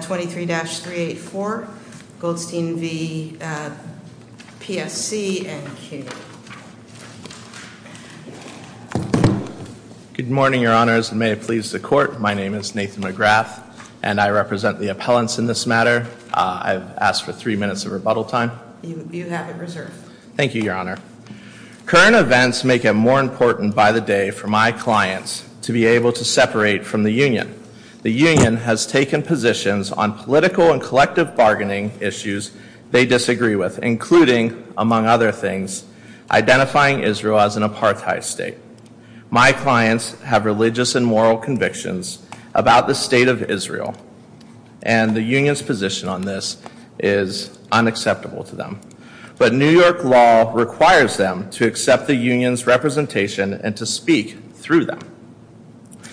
23-384, Goldstein v. PSC and CUNY. Good morning, Your Honors, and may it please the Court, my name is Nathan McGrath and I represent the appellants in this matter. I've asked for three minutes of rebuttal time. You have it reserved. Thank you, Your Honor. Current events make it more important by the day for my clients to be able to separate from the union. The union has taken positions on political and collective bargaining issues they disagree with, including, among other things, identifying Israel as an apartheid state. My clients have religious and moral convictions about the state of Israel, and the union's position on this is unacceptable to them. But New York law requires them to accept the union's representation and to speak through them.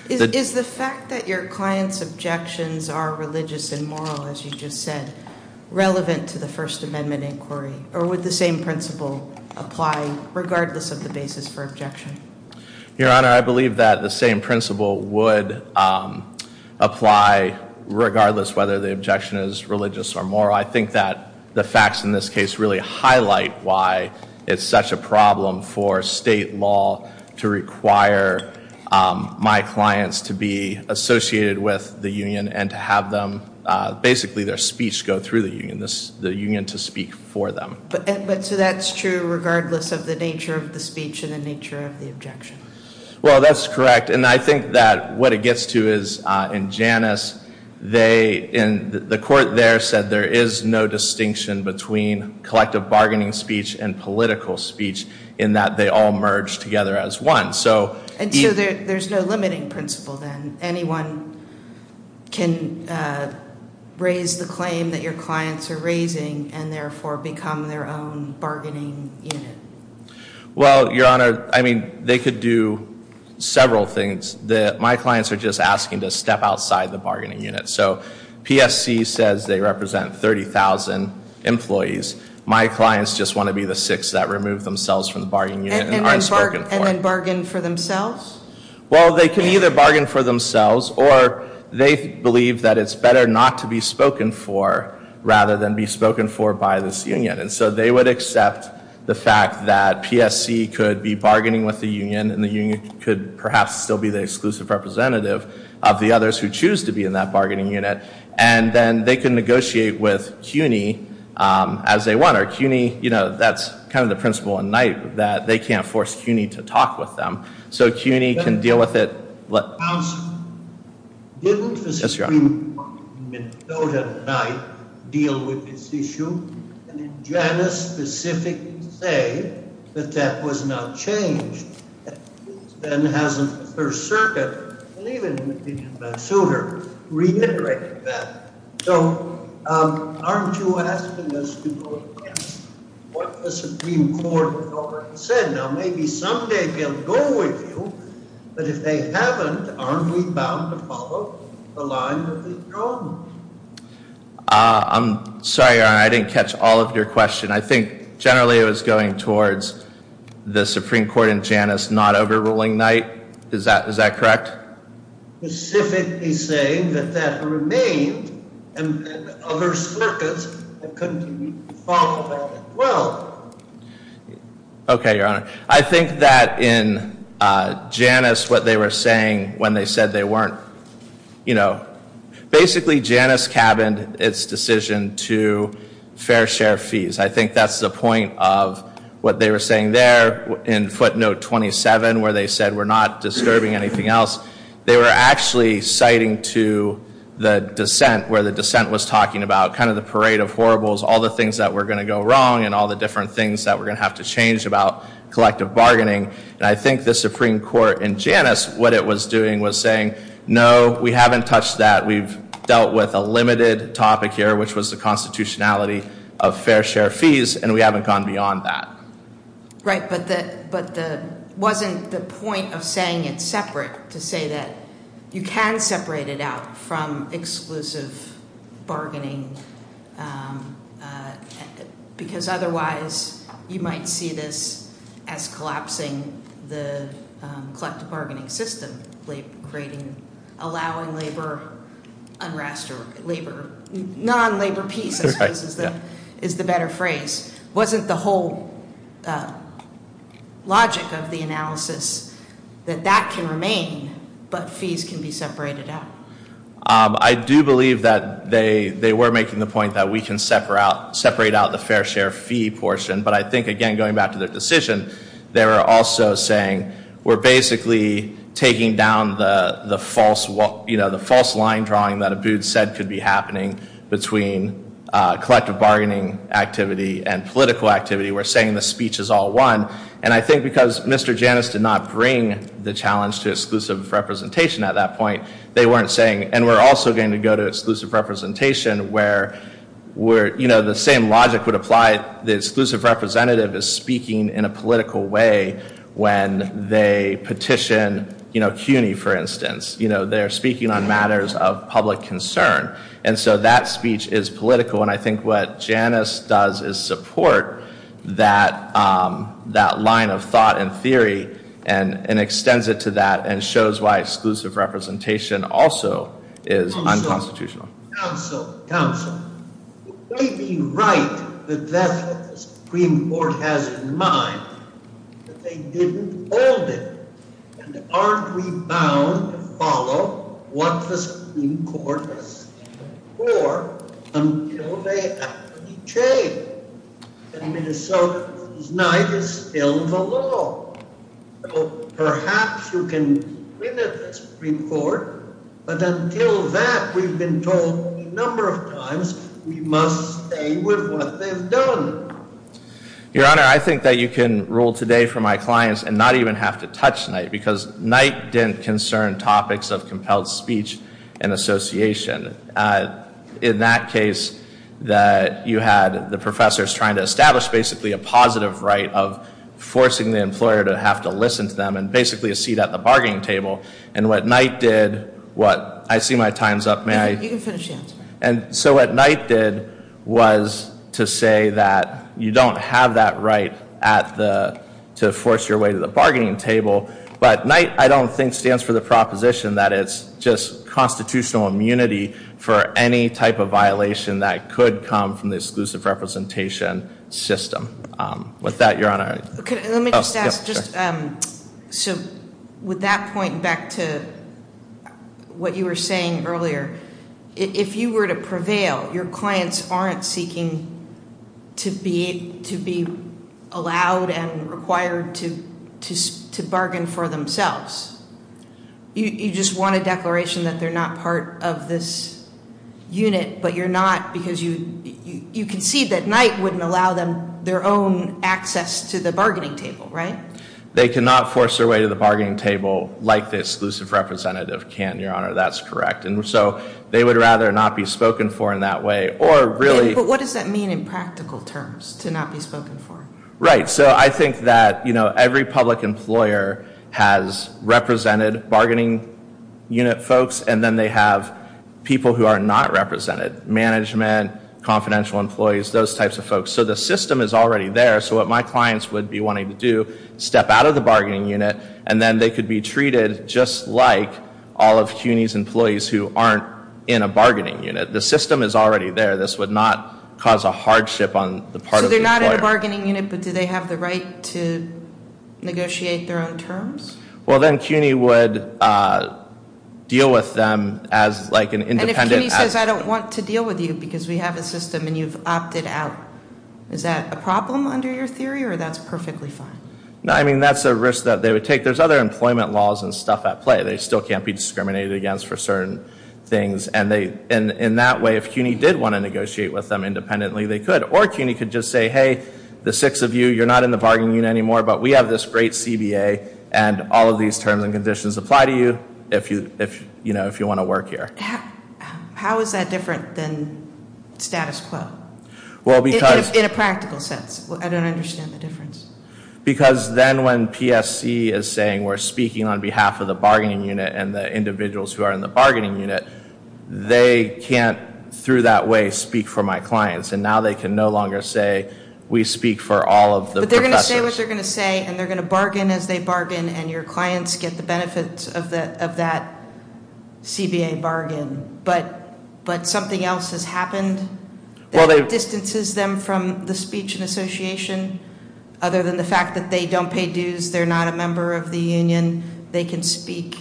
Is the fact that your clients' objections are religious and moral, as you just said, relevant to the First Amendment inquiry, or would the same principle apply regardless of the basis for objection? Your Honor, I believe that the same principle would apply regardless of whether the objection is religious or moral. I think that the facts in this case really highlight why it's such a problem for state law to require my clients to be associated with the union and to have them, basically their speech go through the union, the union to speak for them. But, so that's true regardless of the nature of the speech and the nature of the objection? Well that's correct, and I think that what it gets to is in Janus, they, the court there said there is no distinction between collective bargaining speech and political speech in that they all merge together as one. And so there's no limiting principle then? Anyone can raise the claim that your clients are raising and therefore become their own bargaining unit? Well, Your Honor, I mean, they could do several things. My clients are just asking to step outside the bargaining unit. So PSC says they represent 30,000 employees. My clients just want to be the six that remove themselves from the bargaining unit and aren't spoken for. And then bargain for themselves? Well, they can either bargain for themselves or they believe that it's better not to be spoken for rather than be spoken for by this union. And so they would accept the fact that PSC could be bargaining with the union and the union could perhaps still be the exclusive representative of the others who choose to be in that bargaining unit. And then they can negotiate with CUNY as they want. Or CUNY, you know, that's kind of the principle in Knight that they can't force CUNY to talk with them. So CUNY can deal with it. Counsel, didn't the Supreme Court in Minnesota at Knight deal with this issue? And in Janus specifically say that that was not changed. Then hasn't the First Circuit, and even in the opinion of Van Suter, reiterated that. So aren't you asking us to go against what the Supreme Court has already said? Now, maybe someday they'll go with you, but if they haven't, aren't we bound to follow the line of the throne? I'm sorry, Your Honor, I didn't catch all of your question. I think generally it was going towards the Supreme Court in Janus not overruling Knight. Is that correct? Specifically saying that that remained, and other circuits that continue to talk about it as well. Okay, Your Honor. I think that in Janus what they were saying when they said they weren't, you know, basically Janus cabined its decision to fair share fees. I think that's the point of what they were saying there in footnote 27 where they said we're not disturbing anything else. They were actually citing to the dissent where the dissent was talking about kind of the parade of horribles, all the things that were going to go wrong and all the different things that we're going to have to change about collective bargaining. And I think the Supreme Court in Janus, what it was doing was saying, no, we haven't touched that. We've dealt with a limited topic here, which was the constitutionality of fair share fees, and we haven't gone beyond that. Right, but wasn't the point of saying it separate to say that you can separate it out from exclusive bargaining because otherwise you might see this as collapsing the collective bargaining system, creating, allowing labor unrest or labor, non-labor peace I suppose is the better phrase. Wasn't the whole logic of the analysis that that can remain but fees can be separated out? I do believe that they were making the point that we can separate out the fair share fee portion. But I think, again, going back to their decision, they were also saying we're basically taking down the false line drawing that Abboud said could be happening between collective bargaining activity and political activity. We're saying the speech is all one. And I think because Mr. Janus did not bring the challenge to exclusive representation at that point, they weren't saying, and we're also going to go to exclusive representation where the same logic would apply. The exclusive representative is speaking in a political way when they petition CUNY, for instance. They're speaking on matters of public concern. And so that speech is political. And I think what Janus does is support that line of thought and theory and extends it to that and shows why exclusive representation also is unconstitutional. Counsel. Counsel. It may be right that that's what the Supreme Court has in mind, but they didn't hold it. And aren't we bound to follow what the Supreme Court has said before until they actually change? And Minnesota's night is still the law. So perhaps you can win at this, Supreme Court. But until that, we've been told a number of times we must stay with what they've done. Your Honor, I think that you can rule today for my clients and not even have to touch night, because night didn't concern topics of compelled speech and association. In that case, that you had the professors trying to establish basically a positive right of forcing the employer to have to listen to them and basically a seat at the bargaining table. And what night did, what, I see my time's up, may I? You can finish the answer. And so what night did was to say that you don't have that right to force your way to the bargaining table. But night, I don't think, stands for the proposition that it's just constitutional immunity for any type of violation that could come from the exclusive representation system. With that, Your Honor. Let me just ask, so with that point back to what you were saying earlier, if you were to prevail, your clients aren't seeking to be allowed and required to bargain for themselves. You just want a declaration that they're not part of this unit, but you're not, because you concede that night wouldn't allow them their own access to the bargaining table, right? They cannot force their way to the bargaining table like the exclusive representative can, Your Honor. That's correct. And so they would rather not be spoken for in that way. But what does that mean in practical terms, to not be spoken for? Right. So I think that every public employer has represented bargaining unit folks, and then they have people who are not represented, management, confidential employees, those types of folks. So the system is already there. So what my clients would be wanting to do, step out of the bargaining unit, and then they could be treated just like all of CUNY's employees who aren't in a bargaining unit. The system is already there. This would not cause a hardship on the part of the employer. So they're not in a bargaining unit, but do they have the right to negotiate their own terms? Well, then CUNY would deal with them as like an independent. And if CUNY says, I don't want to deal with you because we have a system and you've opted out, is that a problem under your theory or that's perfectly fine? No, I mean, that's a risk that they would take. There's other employment laws and stuff at play. They still can't be discriminated against for certain things. And in that way, if CUNY did want to negotiate with them independently, they could. Or CUNY could just say, hey, the six of you, you're not in the bargaining unit anymore, but we have this great CBA and all of these terms and conditions apply to you if you want to work here. How is that different than status quo in a practical sense? I don't understand the difference. Because then when PSC is saying we're speaking on behalf of the bargaining unit and the individuals who are in the bargaining unit, they can't, through that way, speak for my clients. And now they can no longer say we speak for all of the professors. Say what they're going to say, and they're going to bargain as they bargain, and your clients get the benefits of that CBA bargain. But something else has happened that distances them from the speech and association? Other than the fact that they don't pay dues, they're not a member of the union, they can speak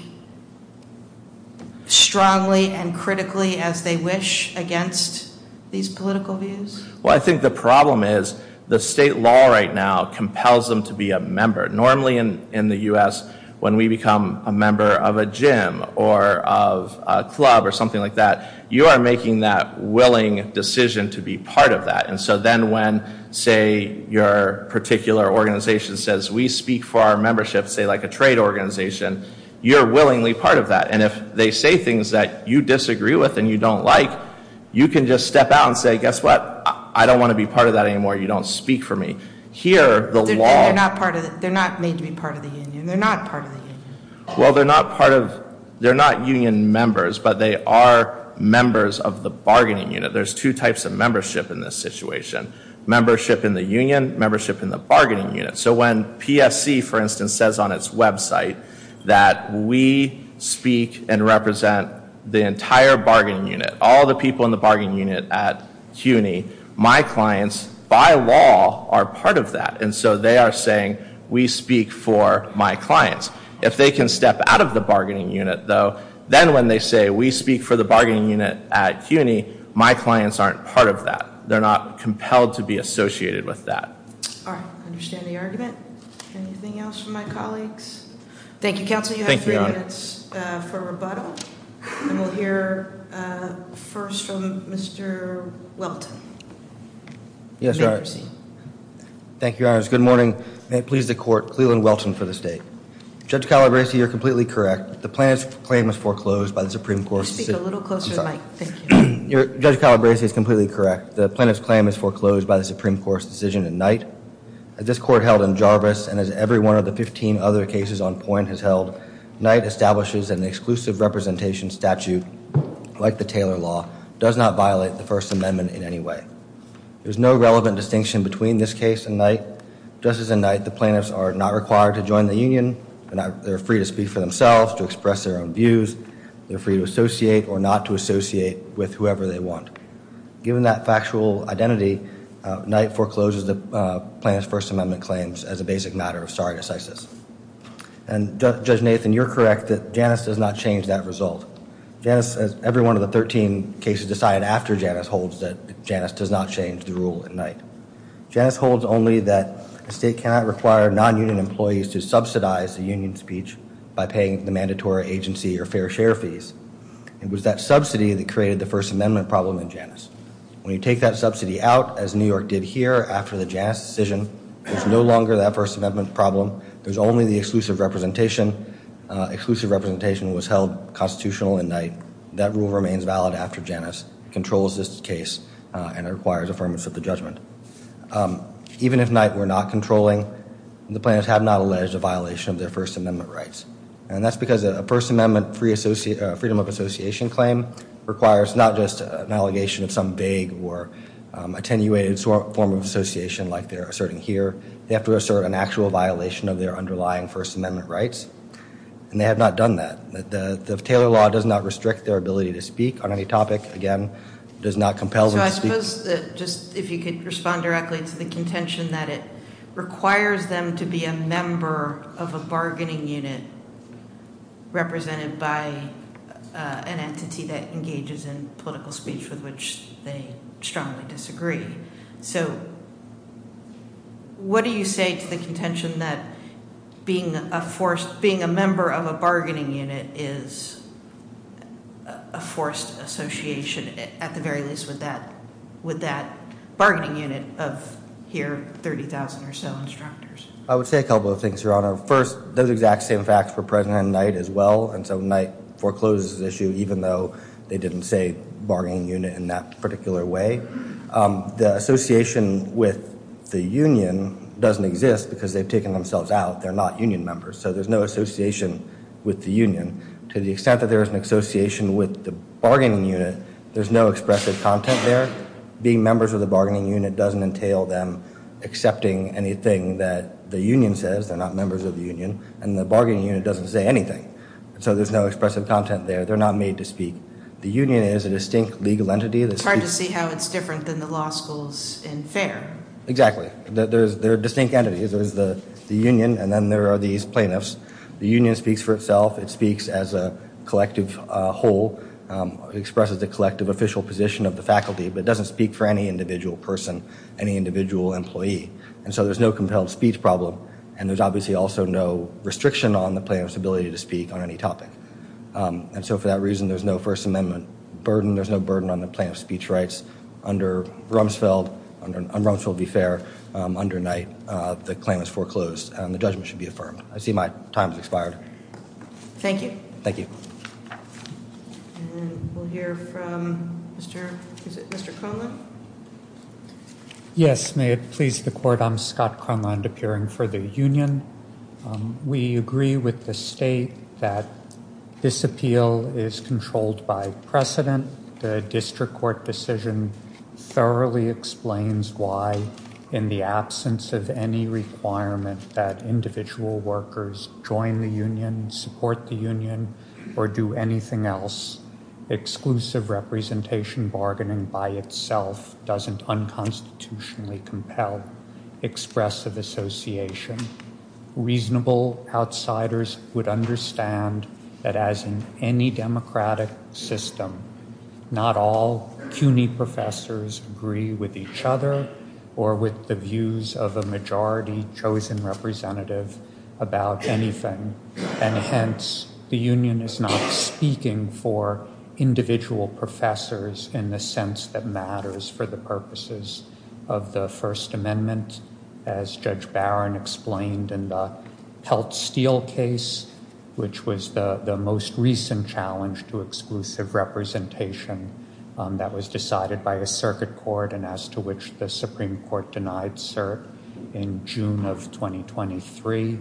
strongly and critically as they wish against these political views? Well, I think the problem is the state law right now compels them to be a member. Normally in the U.S., when we become a member of a gym or of a club or something like that, you are making that willing decision to be part of that. And so then when, say, your particular organization says we speak for our membership, say like a trade organization, you're willingly part of that. And if they say things that you disagree with and you don't like, you can just step out and say, guess what? I don't want to be part of that anymore. You don't speak for me. Here, the law- They're not made to be part of the union. They're not part of the union. Well, they're not union members, but they are members of the bargaining unit. There's two types of membership in this situation. Membership in the union, membership in the bargaining unit. So when PSC, for instance, says on its website that we speak and represent the entire bargaining unit, all the people in the bargaining unit at CUNY, my clients, by law, are part of that. And so they are saying we speak for my clients. If they can step out of the bargaining unit, though, then when they say we speak for the bargaining unit at CUNY, my clients aren't part of that. They're not compelled to be associated with that. All right. I understand the argument. Anything else from my colleagues? Thank you, Counselor. You have three minutes for rebuttal. And we'll hear first from Mr. Welton. Yes, Your Honor. You may proceed. Thank you, Your Honor. Good morning. May it please the Court. Cleland Welton for the State. Judge Calabresi, you're completely correct. The plaintiff's claim was foreclosed by the Supreme Court's decision- Could you speak a little closer to the mic? I'm sorry. Thank you. Judge Calabresi is completely correct. The plaintiff's claim is foreclosed by the Supreme Court's decision in Knight. As this Court held in Jarvis, and as every one of the 15 other cases on point has held, Knight establishes an exclusive representation statute, like the Taylor Law, does not violate the First Amendment in any way. There's no relevant distinction between this case and Knight. Just as in Knight, the plaintiffs are not required to join the union. They're free to speak for themselves, to express their own views. They're free to associate or not to associate with whoever they want. Given that factual identity, Knight forecloses the plaintiff's First Amendment claims as a basic matter of stare decisis. And Judge Nathan, you're correct that Janus does not change that result. Janus, as every one of the 13 cases decided after Janus, holds that Janus does not change the rule in Knight. Janus holds only that the state cannot require non-union employees to subsidize the union speech by paying the mandatory agency or fair share fees. It was that subsidy that created the First Amendment problem in Janus. When you take that subsidy out, as New York did here after the Janus decision, it's no longer that First Amendment problem. There's only the exclusive representation. Exclusive representation was held constitutional in Knight. That rule remains valid after Janus. It controls this case and it requires affirmation of the judgment. Even if Knight were not controlling, the plaintiffs have not alleged a violation of their First Amendment rights. And that's because a First Amendment freedom of association claim requires not just an allegation of some vague or attenuated form of association like they're asserting here. They have to assert an actual violation of their underlying First Amendment rights. And they have not done that. The Taylor law does not restrict their ability to speak on any topic. Again, it does not compel them to speak. So I suppose that just if you could respond directly to the contention that it requires them to be a member of a bargaining unit represented by an entity that engages in political speech with which they strongly disagree. So what do you say to the contention that being a member of a bargaining unit is a forced association at the very least with that bargaining unit of here 30,000 or so instructors? I would say a couple of things, Your Honor. First, those exact same facts were present in Knight as well. And so Knight forecloses this issue even though they didn't say bargaining unit in that particular way. The association with the union doesn't exist because they've taken themselves out. They're not union members. So there's no association with the union. To the extent that there is an association with the bargaining unit, there's no expressive content there. Being members of the bargaining unit doesn't entail them accepting anything that the union says. They're not members of the union. And the bargaining unit doesn't say anything. So there's no expressive content there. They're not made to speak. The union is a distinct legal entity. It's hard to see how it's different than the law schools in fair. Exactly. They're distinct entities. There's the union, and then there are these plaintiffs. The union speaks for itself. It speaks as a collective whole, expresses the collective official position of the faculty, but it doesn't speak for any individual person, any individual employee. And so there's no compelled speech problem, and there's obviously also no restriction on the plaintiff's ability to speak on any topic. And so for that reason, there's no First Amendment burden. There's no burden on the plaintiff's speech rights. Under Rumsfeld, on Rumsfeld v. Fair, under Knight, the claim is foreclosed, and the judgment should be affirmed. I see my time has expired. Thank you. Thank you. And we'll hear from Mr. Cronlund. Yes, may it please the Court. I'm Scott Cronlund, appearing for the union. We agree with the state that this appeal is controlled by precedent. The district court decision thoroughly explains why, in the absence of any requirement that individual workers join the union, support the union, or do anything else, exclusive representation bargaining by itself doesn't unconstitutionally compel expressive association. Reasonable outsiders would understand that, as in any democratic system, not all CUNY professors agree with each other or with the views of a majority chosen representative about anything. And hence, the union is not speaking for individual professors in the sense that matters for the purposes of the First Amendment, as Judge Barron explained in the Pelt Steel case, which was the most recent challenge to exclusive representation that was decided by a circuit court and as to which the Supreme Court denied cert in June of 2023.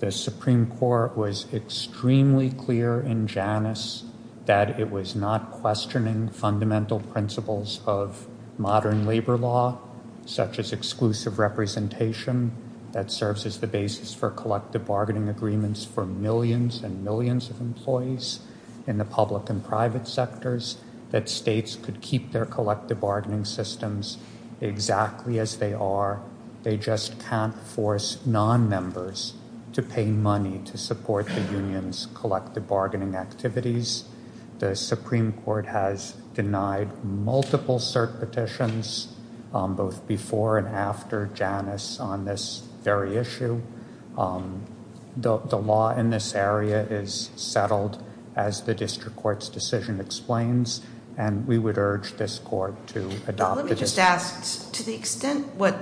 The Supreme Court was extremely clear in Janus that it was not questioning fundamental principles of modern labor law, such as exclusive representation that serves as the basis for collective bargaining agreements for millions and millions of employees in the public and private sectors, that states could keep their collective bargaining systems exactly as they are, they just can't force non-members to pay money to support the union's collective bargaining activities. The Supreme Court has denied multiple cert petitions, both before and after Janus on this very issue. The law in this area is settled, as the district court's decision explains, and we would urge this court to adopt it. Let me just ask, to the extent what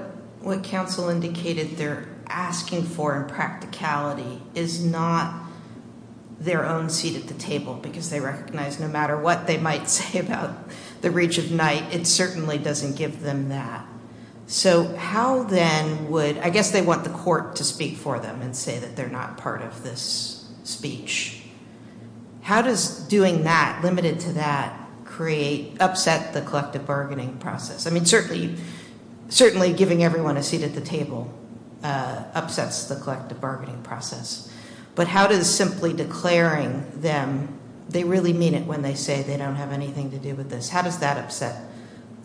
counsel indicated they're asking for in practicality is not their own seat at the table, because they recognize no matter what they might say about the reach of night, it certainly doesn't give them that. So how then would, I guess they want the court to speak for them and say that they're not part of this speech. How does doing that, limited to that, upset the collective bargaining process? I mean, certainly giving everyone a seat at the table upsets the collective bargaining process. But how does simply declaring them they really mean it when they say they don't have anything to do with this, how does that upset,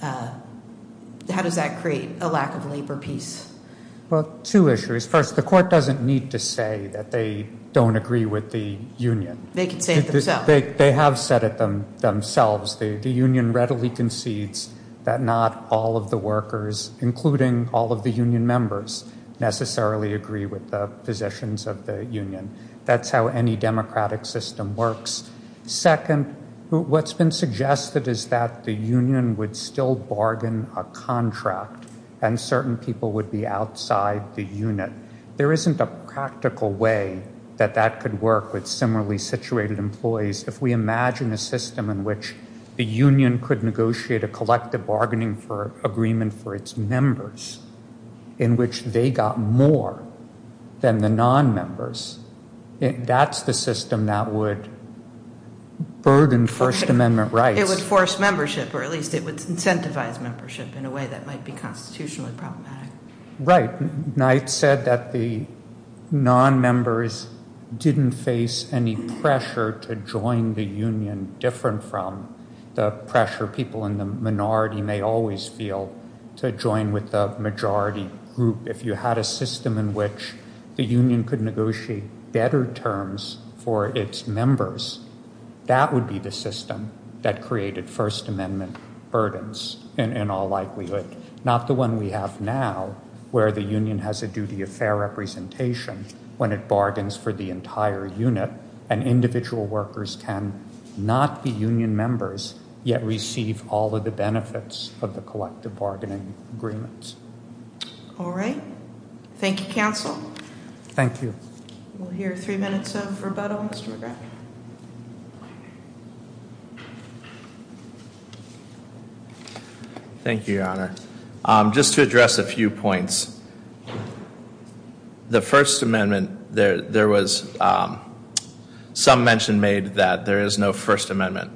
how does that create a lack of labor peace? Well, two issues. First, the court doesn't need to say that they don't agree with the union. They can say it themselves. They have said it themselves. The union readily concedes that not all of the workers, including all of the union members, necessarily agree with the positions of the union. That's how any democratic system works. Second, what's been suggested is that the union would still bargain a contract and certain people would be outside the unit. There isn't a practical way that that could work with similarly situated employees. If we imagine a system in which the union could negotiate a collective bargaining agreement for its members in which they got more than the non-members, that's the system that would burden First Amendment rights. It would force membership, or at least it would incentivize membership in a way that might be constitutionally problematic. Right. Knight said that the non-members didn't face any pressure to join the union, different from the pressure people in the minority may always feel to join with the majority group. If you had a system in which the union could negotiate better terms for its members, that would be the system that created First Amendment burdens in all likelihood, not the one we have now where the union has a duty of fair representation when it bargains for the entire unit, and individual workers can not be union members yet receive all of the benefits of the collective bargaining agreements. All right. Thank you, counsel. Thank you. We'll hear three minutes of rebuttal. Mr. McGrath. Thank you, Your Honor. Just to address a few points, the First Amendment, there was some mention made that there is no First Amendment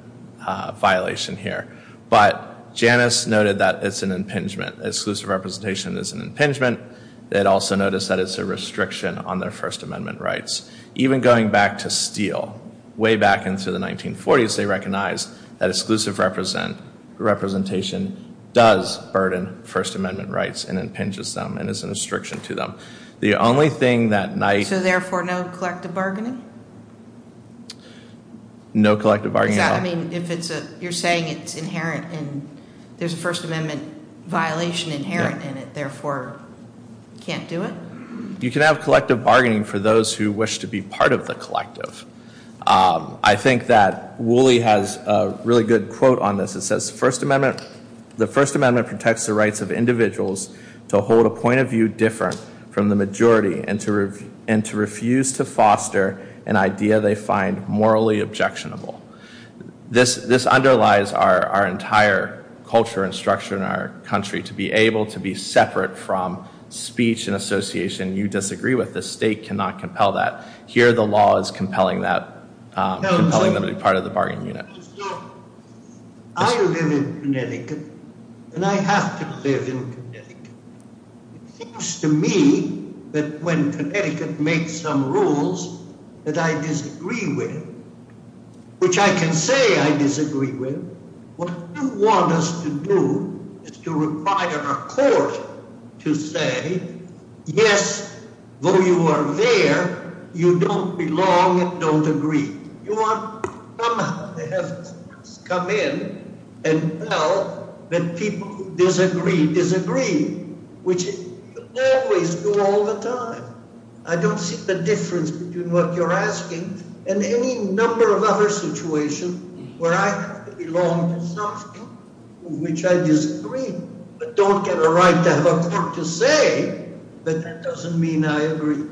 violation here, but Janus noted that it's an impingement. Exclusive representation is an impingement. It also noticed that it's a restriction on their First Amendment rights. Even going back to Steele, way back into the 1940s, they recognized that exclusive representation does burden First Amendment rights and impinges them and is a restriction to them. So therefore, no collective bargaining? No collective bargaining at all. You're saying it's inherent and there's a First Amendment violation inherent in it, therefore can't do it? You can have collective bargaining for those who wish to be part of the collective. I think that Woolley has a really good quote on this. It says, The First Amendment protects the rights of individuals to hold a point of view different from the majority and to refuse to foster an idea they find morally objectionable. This underlies our entire culture and structure in our country, to be able to be separate from speech and association you disagree with. The state cannot compel that. Here the law is compelling them to be part of the bargaining unit. I live in Connecticut and I have to live in Connecticut. It seems to me that when Connecticut makes some rules that I disagree with, which I can say I disagree with, what you want us to do is to require a court to say, Yes, though you are there, you don't belong and don't agree. You want to come in and tell that people disagree, disagree, which you always do all the time. I don't see the difference between what you're asking and any number of other situations where I have to belong to something which I disagree with, but don't get a right to have a court to say that that doesn't mean I agree.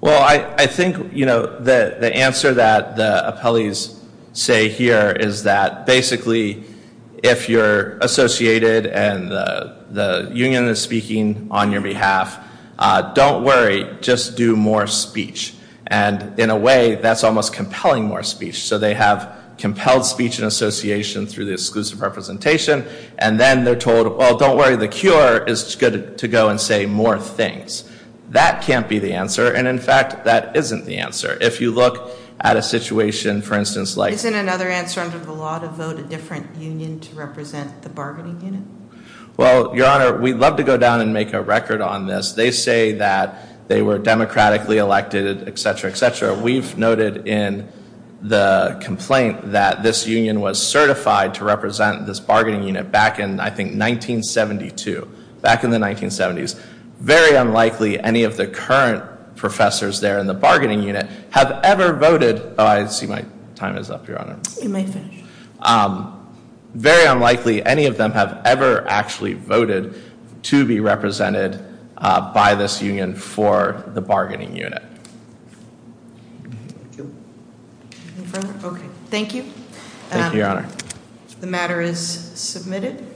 Well, I think the answer that the appellees say here is that basically, if you're associated and the union is speaking on your behalf, don't worry, just do more speech. And in a way that's almost compelling more speech. So they have compelled speech and association through the exclusive representation, and then they're told, well, don't worry, the cure is to go and say more things. That can't be the answer. And, in fact, that isn't the answer. If you look at a situation, for instance, like- Isn't another answer under the law to vote a different union to represent the bargaining unit? Well, Your Honor, we'd love to go down and make a record on this. They say that they were democratically elected, et cetera, et cetera. We've noted in the complaint that this union was certified to represent this bargaining unit back in, I think, 1972. Back in the 1970s. Very unlikely any of the current professors there in the bargaining unit have ever voted- Oh, I see my time is up, Your Honor. You may finish. Very unlikely any of them have ever actually voted to be represented by this union for the bargaining unit. Okay. Thank you. Thank you, Your Honor. The matter is submitted.